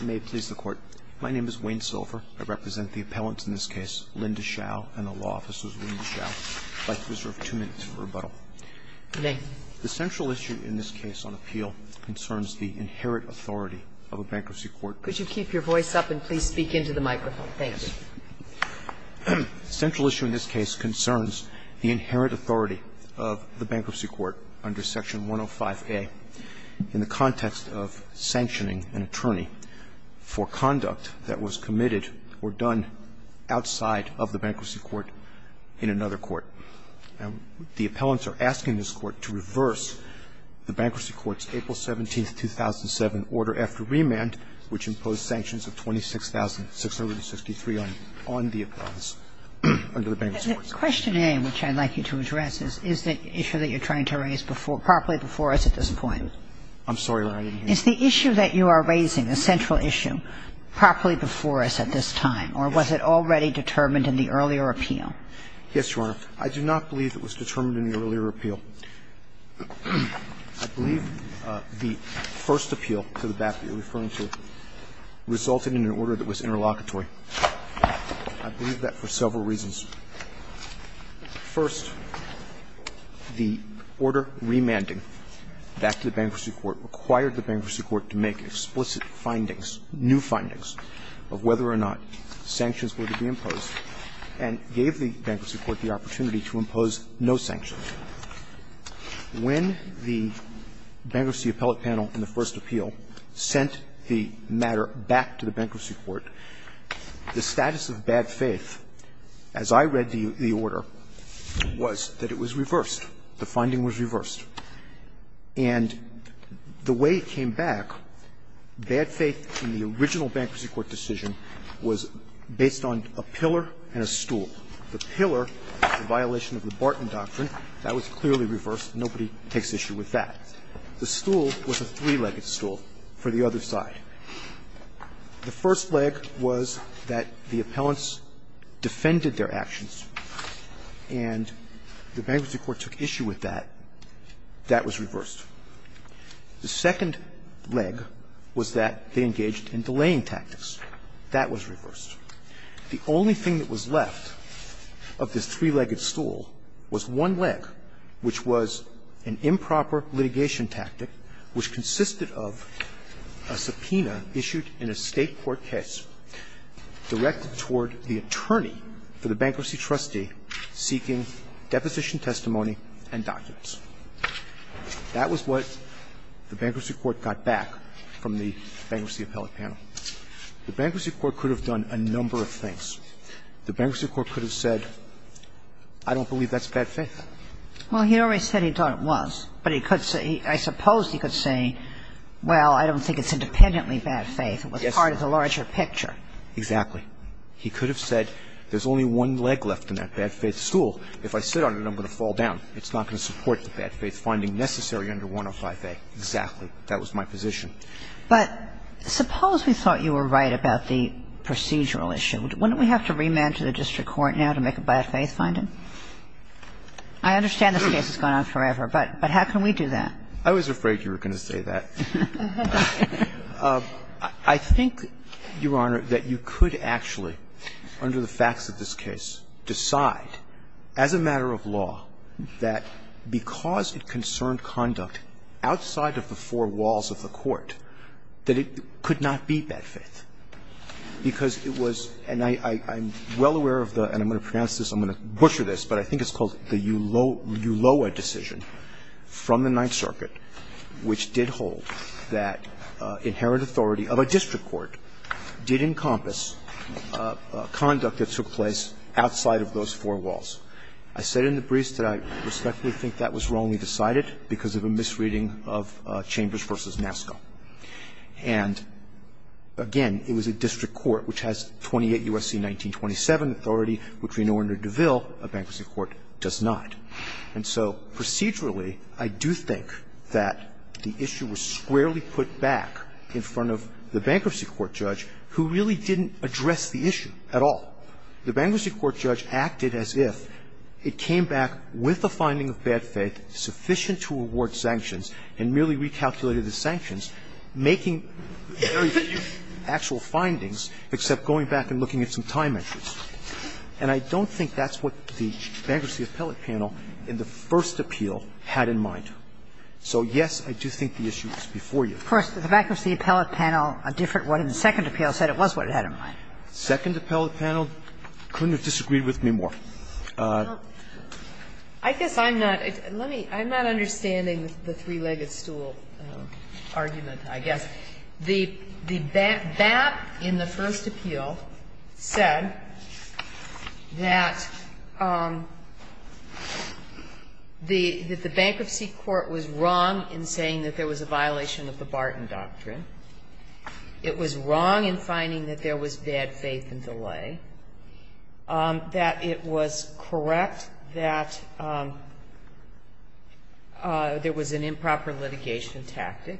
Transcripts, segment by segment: May it please the Court. My name is Wayne Silver. I represent the appellants in this case, Linda Schau and the law officers, Wayne Schau. I'd like to reserve two minutes for rebuttal. Good day. The central issue in this case on appeal concerns the inherent authority of a bankruptcy court. Could you keep your voice up and please speak into the microphone? Thank you. The central issue in this case concerns the inherent authority of the bankruptcy court under Section 105A in the context of sanctioning an attorney for conduct that was committed or done outside of the bankruptcy court in another court. The appellants are asking this Court to reverse the bankruptcy court's April 17, 2007 order after remand, which imposed sanctions of 26,663 on the appellants under the bankruptcy court. Question A, which I'd like you to address, is the issue that you're trying to raise properly before us at this point. I'm sorry, Your Honor. Is the issue that you are raising, the central issue, properly before us at this time, or was it already determined in the earlier appeal? Yes, Your Honor. I do not believe it was determined in the earlier appeal. I believe the first appeal to the back that you're referring to resulted in an order that was interlocutory. I believe that for several reasons. First, the order remanding back to the bankruptcy court required the bankruptcy court to make explicit findings, new findings, of whether or not sanctions were to be imposed, and gave the bankruptcy court the opportunity to impose no sanctions. When the bankruptcy appellate panel in the first appeal sent the matter back to the bankruptcy court, the status of bad faith, as I read the order, was that it was reversed. The finding was reversed. And the way it came back, bad faith in the original bankruptcy court decision was based on a pillar and a stool. The pillar was a violation of the Barton doctrine. That was clearly reversed. Nobody takes issue with that. The stool was a three-legged stool for the other side. The first leg was that the appellants defended their actions, and the bankruptcy court took issue with that. That was reversed. The second leg was that they engaged in delaying tactics. That was reversed. The only thing that was left of this three-legged stool was one leg, which was an improper litigation tactic which consisted of a subpoena issued in a State court case directed toward the attorney for the bankruptcy trustee seeking deposition testimony and documents. That was what the bankruptcy court got back from the bankruptcy appellate panel. The bankruptcy court could have done a number of things. The bankruptcy court could have said, I don't believe that's bad faith. Well, he always said he thought it was, but he could say he – I suppose he could say, well, I don't think it's independently bad faith. Yes, Your Honor. It was part of the larger picture. Exactly. He could have said there's only one leg left in that bad faith stool. If I sit on it, I'm going to fall down. It's not going to support the bad faith finding necessary under 105a. Exactly. That was my position. But suppose we thought you were right about the procedural issue. Wouldn't we have to remand to the district court now to make a bad faith finding? I understand this case has gone on forever, but how can we do that? I was afraid you were going to say that. I think, Your Honor, that you could actually, under the facts of this case, decide as a matter of law that because it concerned conduct outside of the four walls of the court, that it could not be bad faith, because it was – and I'm well aware of the – and I'm going to pronounce this, I'm going to butcher this, but I think it's called the Uloa decision from the Ninth Circuit, which did hold that inherent authority of a district court did encompass conduct that took place outside of those four walls. I said in the briefs that I respectfully think that was wrongly decided because of a misreading of Chambers v. Nascau. And, again, it was a district court which has 28 U.S.C. 1927 authority, which we know under DeVille a bankruptcy court does not. And so procedurally, I do think that the issue was squarely put back in front of the bankruptcy court judge, who really didn't address the issue at all. The bankruptcy court judge acted as if it came back with a finding of bad faith sufficient to award sanctions and merely recalculated the sanctions, making very few actual findings, except going back and looking at some time entries. And I don't think that's what the Bankruptcy Appellate Panel in the first appeal had in mind. So, yes, I do think the issue was before you. Kagan. First, the Bankruptcy Appellate Panel, a different one in the second appeal, said it was what it had in mind. The second appellate panel couldn't have disagreed with me more. I guess I'm not let me, I'm not understanding the three-legged stool argument, I guess. The BAP in the first appeal said that the bankruptcy court was wrong in saying that there was a violation of the Barton Doctrine. It was wrong in finding that there was bad faith in DeLay. That it was correct that there was an improper litigation tactic,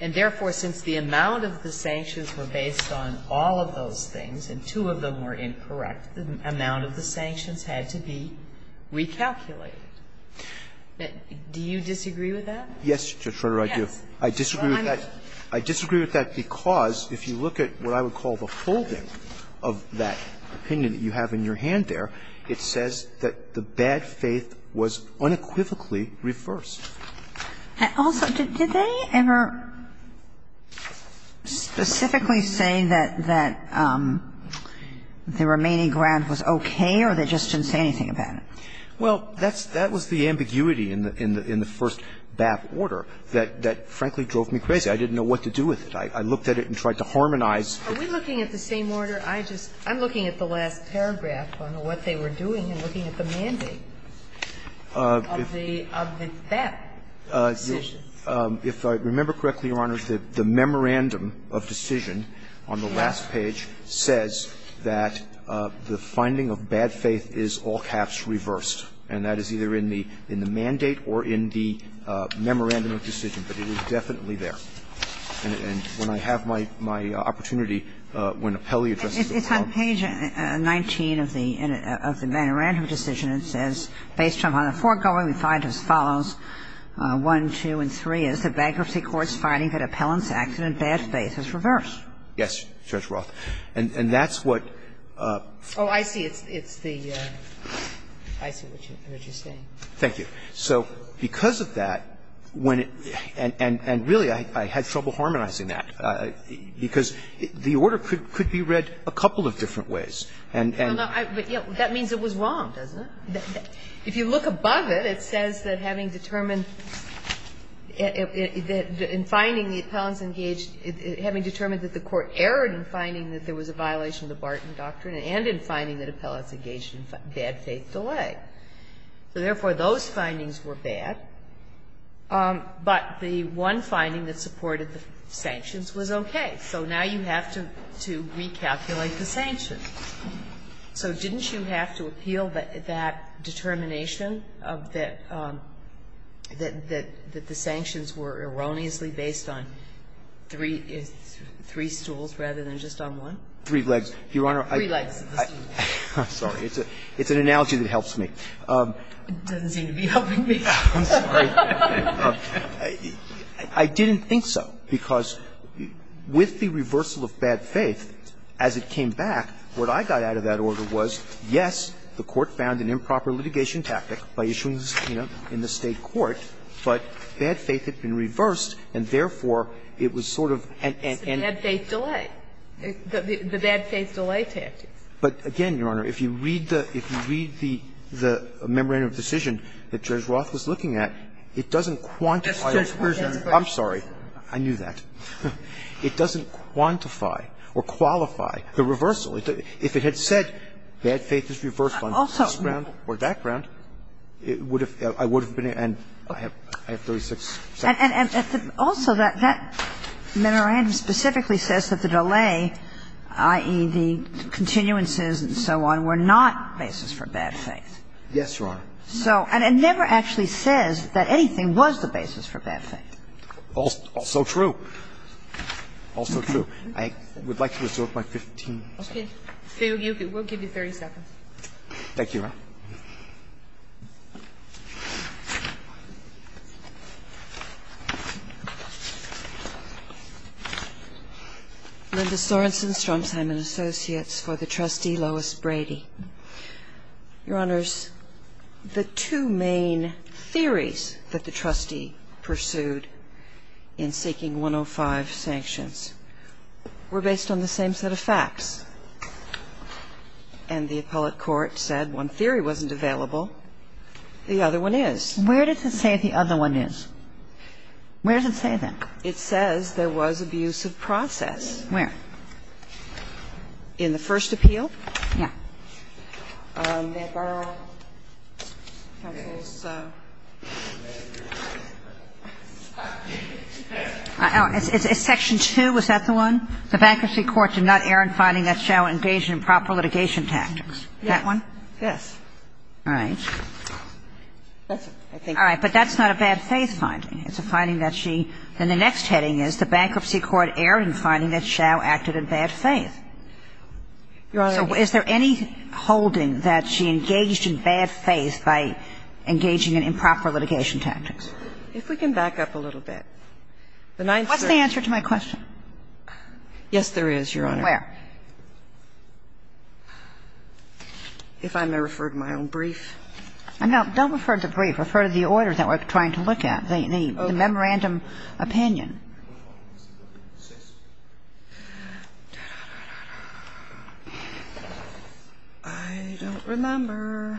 and therefore, since the amount of the sanctions were based on all of those things, and two of them were incorrect, the amount of the sanctions had to be recalculated. Do you disagree with that? Yes, Judge Sotomayor, I do. I disagree with that because if you look at what I would call the holding of that opinion that you have in your hand there, it says that the bad faith was unequivocally reversed. And also, did they ever specifically say that the remaining grant was okay, or they just didn't say anything about it? Well, that was the ambiguity in the first BAP order that, frankly, drove me crazy. I didn't know what to do with it. I looked at it and tried to harmonize. Are we looking at the same order? I'm looking at the last paragraph on what they were doing and looking at the mandate of the BAP. If I remember correctly, Your Honor, the memorandum of decision on the last page says that the finding of bad faith is all-caps reversed, and that is either in the mandate or in the memorandum of decision. But it was definitely there. And when I have my opportunity, when Appelli addresses the Court of Appeal to me, I'll say it. It's on page 19 of the memorandum of decision. And it says, Based on the foregoing, we find as follows, 1, 2, and 3, as the bankruptcy court's finding that Appellant's accident, bad faith, is reversed. Yes, Judge Roth. And that's what the order could be read a couple of different ways. And really, I had trouble harmonizing that, because the order could be read a couple of different ways. Now, that means it was wrong, doesn't it. If you look above it, it says that, having determined in finding the Appellants engaged ñ having determined that the Court erred in finding that there was a violation of the Barton Doctrine and in finding that Appellants engaged in bad faith delay. So therefore, those findings were bad, but the one finding that supported the sanctions was okay. So now you have to recalculate the sanctions. So didn't you have to appeal that determination of the ñ that the sanctions were erroneously based on three stools rather than just on one? Three legs. Your Honor, I ñ Three legs of the stool. I'm sorry. It's an analogy that helps me. It doesn't seem to be helping me. I'm sorry. I didn't think so, because with the reversal of bad faith, as it came back, what I got out of that order was, yes, the Court found an improper litigation tactic by issuing this, you know, in the State court, but bad faith had been reversed, and therefore, it was sort of an ñ It's a bad faith delay, the bad faith delay tactic. But, again, Your Honor, if you read the ñ if you read the memorandum of decision that Judge Roth was looking at, it doesn't quantify ñ That's Judge Roth. I'm sorry. I knew that. It doesn't quantify or qualify the reversal. If it had said bad faith is reversed on this ground or that ground, it would have ñ I would have been in, and I have 36 seconds. And also, that memorandum specifically says that the delay, i.e., the continuances and so on, were not basis for bad faith. Yes, Your Honor. So ñ and it never actually says that anything was the basis for bad faith. Also true. Also true. I would like to resort by 15 seconds. Okay. We'll give you 30 seconds. Thank you, Your Honor. Linda Sorensen, Storm Simon Associates, for the trustee, Lois Brady. Your Honors, the two main theories that the trustee pursued in seeking 105 sanctions were based on the same set of facts. And the appellate court said one theory wasn't available, the other one is. Where does it say the other one is? Where does it say that? It says there was abuse of process. Where? In the first appeal. Yeah. in improper litigation tactics. May I borrow counsel's ñ Is section 2, was that the one? The bankruptcy court did not err in finding that Xiao engaged in improper litigation tactics. That one? Yes. All right. That's it, I think. It's a finding that she ñ then the next heading is the bankruptcy court erred in finding that Xiao acted in bad faith. Your Honor ñ So is there any holding that she engaged in bad faith by engaging in improper litigation tactics? If we can back up a little bit. The ninth ñ What's the answer to my question? Yes, there is, Your Honor. Where? If I may refer to my own brief. No, don't refer to the brief. Refer to the orders that we're trying to look at. The memorandum opinion. I don't remember.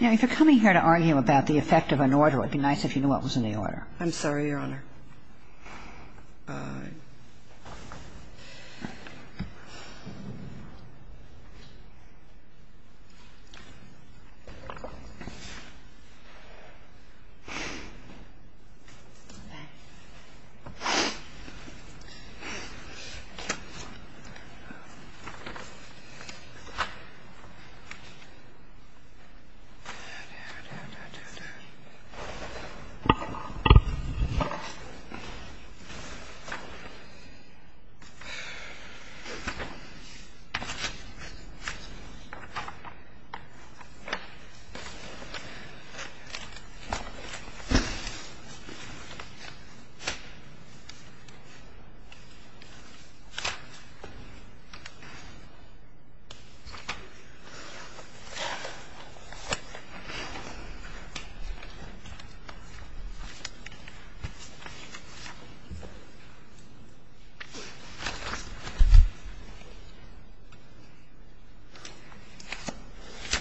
Now, if you're coming here to argue about the effect of an order, it'd be nice if you knew what was in the order. I'm sorry, Your Honor.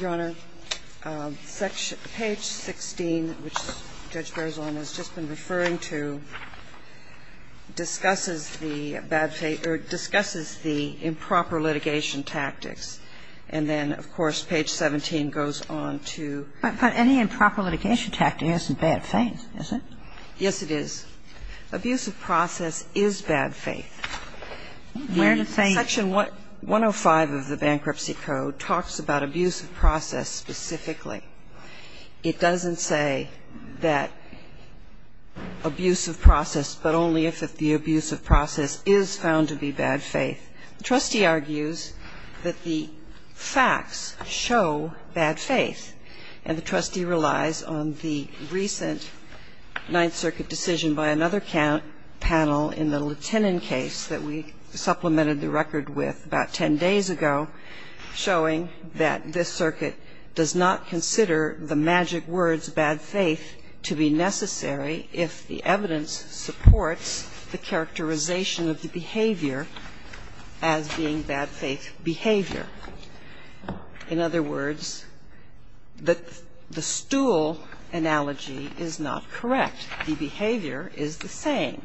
Your Honor, page 16, which Judge Berzon has just been referring to, discusses the improper litigation tactics, and then, of course, page 17 goes on to ñ But any improper litigation tactic isn't bad faith, is it? Yes, it is. Abusive process is bad faith. Where does that say ñ Section 105 of the Bankruptcy Code talks about abusive process specifically. It doesn't say that abusive process, but only if the abusive process is found to be bad faith. The trustee argues that the facts show bad faith, and the trustee relies on the recent Ninth Circuit decision by another panel in the lieutenant case that we supplemented the record with about 10 days ago, showing that this circuit does not consider the magic words, bad faith, to be necessary if the evidence supports the characterization of the behavior as being bad faith behavior. In other words, the stool analogy is not correct. The behavior is the same.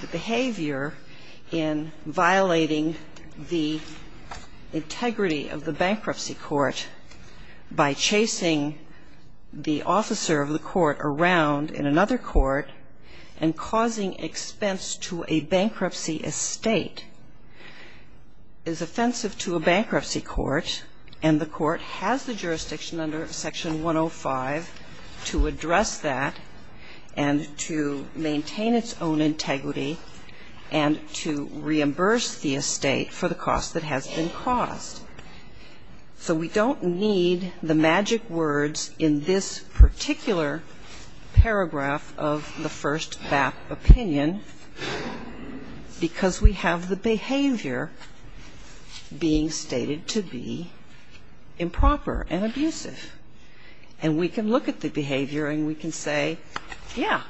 The behavior in violating the integrity of the bankruptcy court by chasing the expense to a bankruptcy estate is offensive to a bankruptcy court, and the court has the jurisdiction under Section 105 to address that and to maintain its own integrity and to reimburse the estate for the cost that has been caused. So we don't need the magic words in this particular paragraph of the first BAP opinion because we have the behavior being stated to be improper and abusive. And we can look at the behavior and we can say, yeah,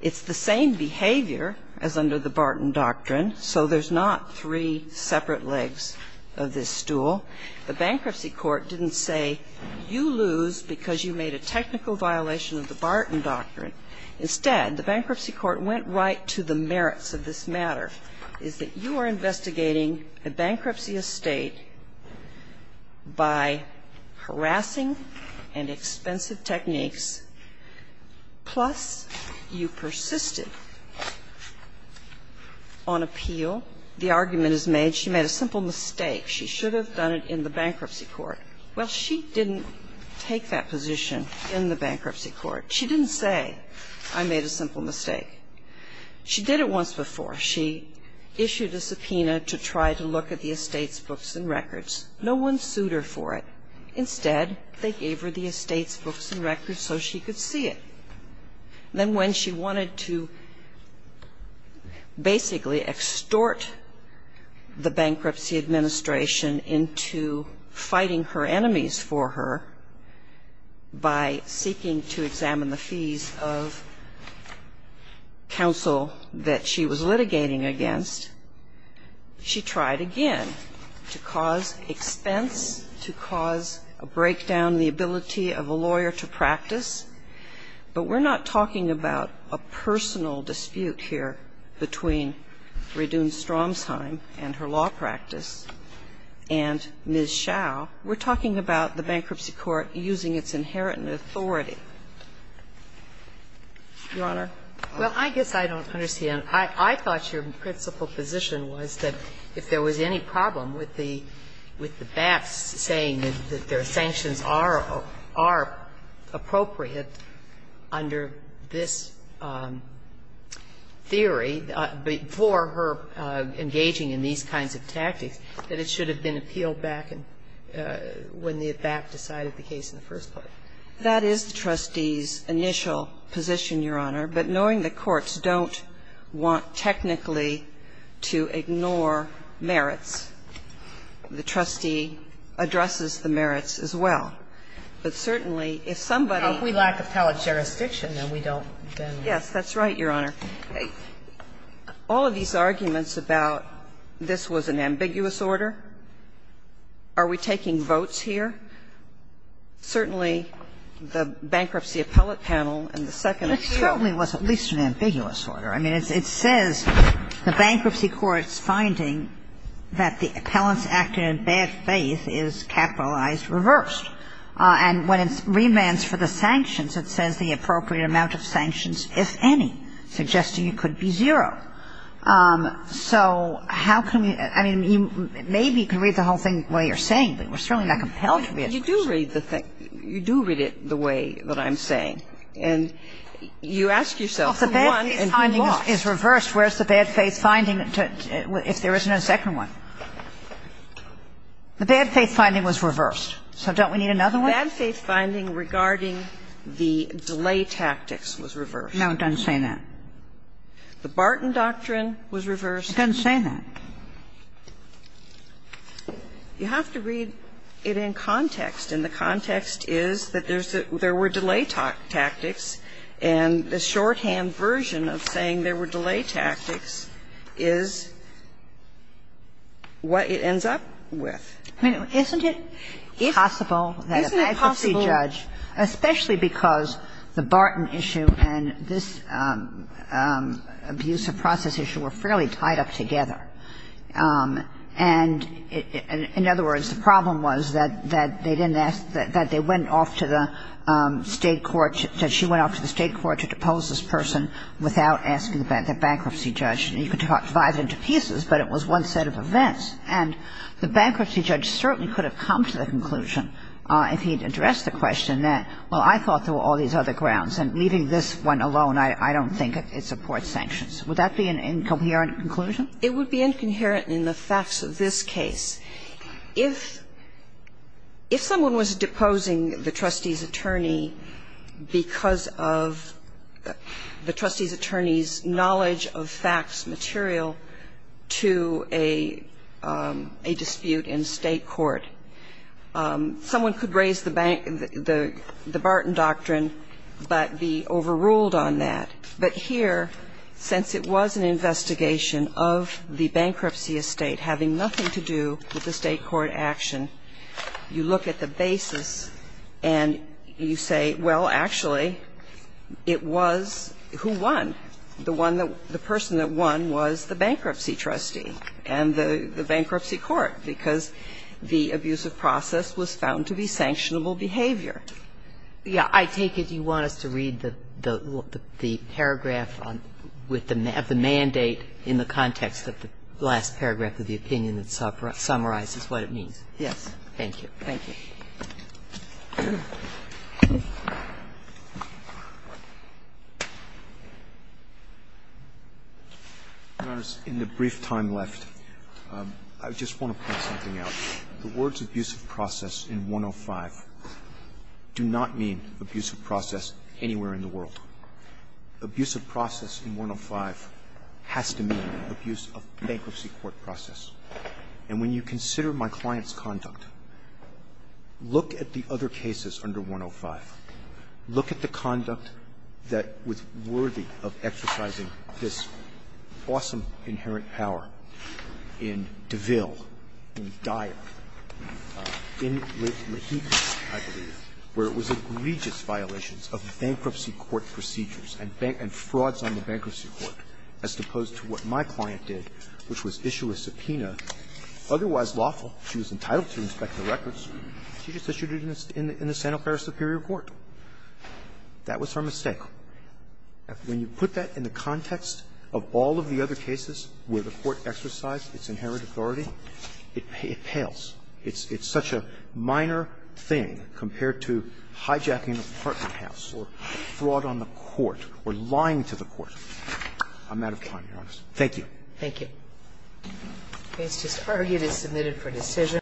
it's the same behavior as under the Barton Doctrine, so there's not three separate legs of this stool. The bankruptcy court didn't say, you lose because you made a technical violation of the Barton Doctrine. Instead, the bankruptcy court went right to the merits of this matter, is that you are investigating a bankruptcy estate by harassing and expensive techniques, plus you persisted on appeal. The argument is made, she made a simple mistake. She should have done it in the bankruptcy court. Well, she didn't take that position in the bankruptcy court. She didn't say, I made a simple mistake. She did it once before. She issued a subpoena to try to look at the estate's books and records. No one sued her for it. Instead, they gave her the estate's books and records so she could see it. Then when she wanted to basically extort the bankruptcy administration into fighting her enemies for her by seeking to examine the fees of counsel that she was litigating against, she tried again to cause expense, to cause a breakdown in the ability of a lawyer to practice. But we're not talking about a personal dispute here between Radun Stromsheim and her law practice and Ms. Schau. We're talking about the bankruptcy court using its inherent authority. Your Honor? Well, I guess I don't understand. I thought your principal position was that if there was any problem with the backs saying that their sanctions are appropriate under this theory, before the bankruptcy case, that it should have been appealed back when the abac decided the case in the first place. That is the trustee's initial position, Your Honor. But knowing the courts don't want technically to ignore merits, the trustee addresses the merits as well. But certainly, if somebody --- Now, if we lack appellate jurisdiction, then we don't then ---- Yes, that's right, Your Honor. All of these arguments about this was an ambiguous order, are we taking votes here? Certainly, the bankruptcy appellate panel and the second appeal ---- It certainly was at least an ambiguous order. I mean, it says the bankruptcy court's finding that the appellant's acting in bad faith is capitalized reversed. And when it's remands for the sanctions, it says the appropriate amount of sanctions, if any, suggesting it could be zero. So how can we ---- I mean, maybe you can read the whole thing the way you're saying it, but we're certainly not compelled to read it. You do read it the way that I'm saying. And you ask yourself who won and who lost. Well, if the bad faith finding is reversed, where's the bad faith finding if there isn't a second one? The bad faith finding was reversed. So don't we need another one? The bad faith finding regarding the delay tactics was reversed. No, it doesn't say that. The Barton doctrine was reversed. It doesn't say that. You have to read it in context, and the context is that there's a ---- there were delay tactics, and the shorthand version of saying there were delay tactics is what it ends up with. I mean, isn't it possible that a bankruptcy judge, especially because the Barton issue and this abuse of process issue were fairly tied up together, and in other words, the problem was that they didn't ask ---- that they went off to the state court, that she went off to the state court to depose this person without asking the bankruptcy judge. And you could divide it into pieces, but it was one set of events, and the bankruptcy judge certainly could have come to the conclusion if he'd addressed the question that, well, I thought there were all these other grounds. And leaving this one alone, I don't think it supports sanctions. Would that be an incoherent conclusion? It would be incoherent in the facts of this case. If someone was deposing the trustee's attorney because of the trustee's attorney's knowledge of facts material to a dispute in state court, someone could raise the Barton doctrine but be overruled on that. But here, since it was an investigation of the bankruptcy estate having nothing to do with the state court action, you look at the basis and you say, well, actually it was who won. The one that ---- the person that won was the bankruptcy trustee and the bankruptcy court because the abuse of process was found to be sanctionable behavior. Yeah. I take it you want us to read the paragraph with the mandate in the context of the last paragraph of the opinion that summarizes what it means. Yes. Thank you. Thank you. Roberts, in the brief time left, I just want to point something out. The words abuse of process in 105 do not mean abuse of process anywhere in the world. Abuse of process in 105 has to mean abuse of bankruptcy court process. And when you consider my client's conduct, look at the other cases under 105. Look at the conduct that was worthy of exercising this awesome inherent power in Deville, in Dyack, in Laheed, I believe, where it was egregious violations of bankruptcy court procedures and frauds on the bankruptcy court, as opposed to what my client did, which was issue a subpoena, otherwise lawful, she was entitled to inspect the records, she just issued it in the Santa Clara Superior Court. That was her mistake. When you put that in the context of all of the other cases where the Court exercised its inherent authority, it pales. It's such a minor thing compared to hijacking an apartment house or fraud on the court or lying to the court. I'm out of time, Your Honor. Thank you. Thank you. Mr. Sparghett is submitted for decision.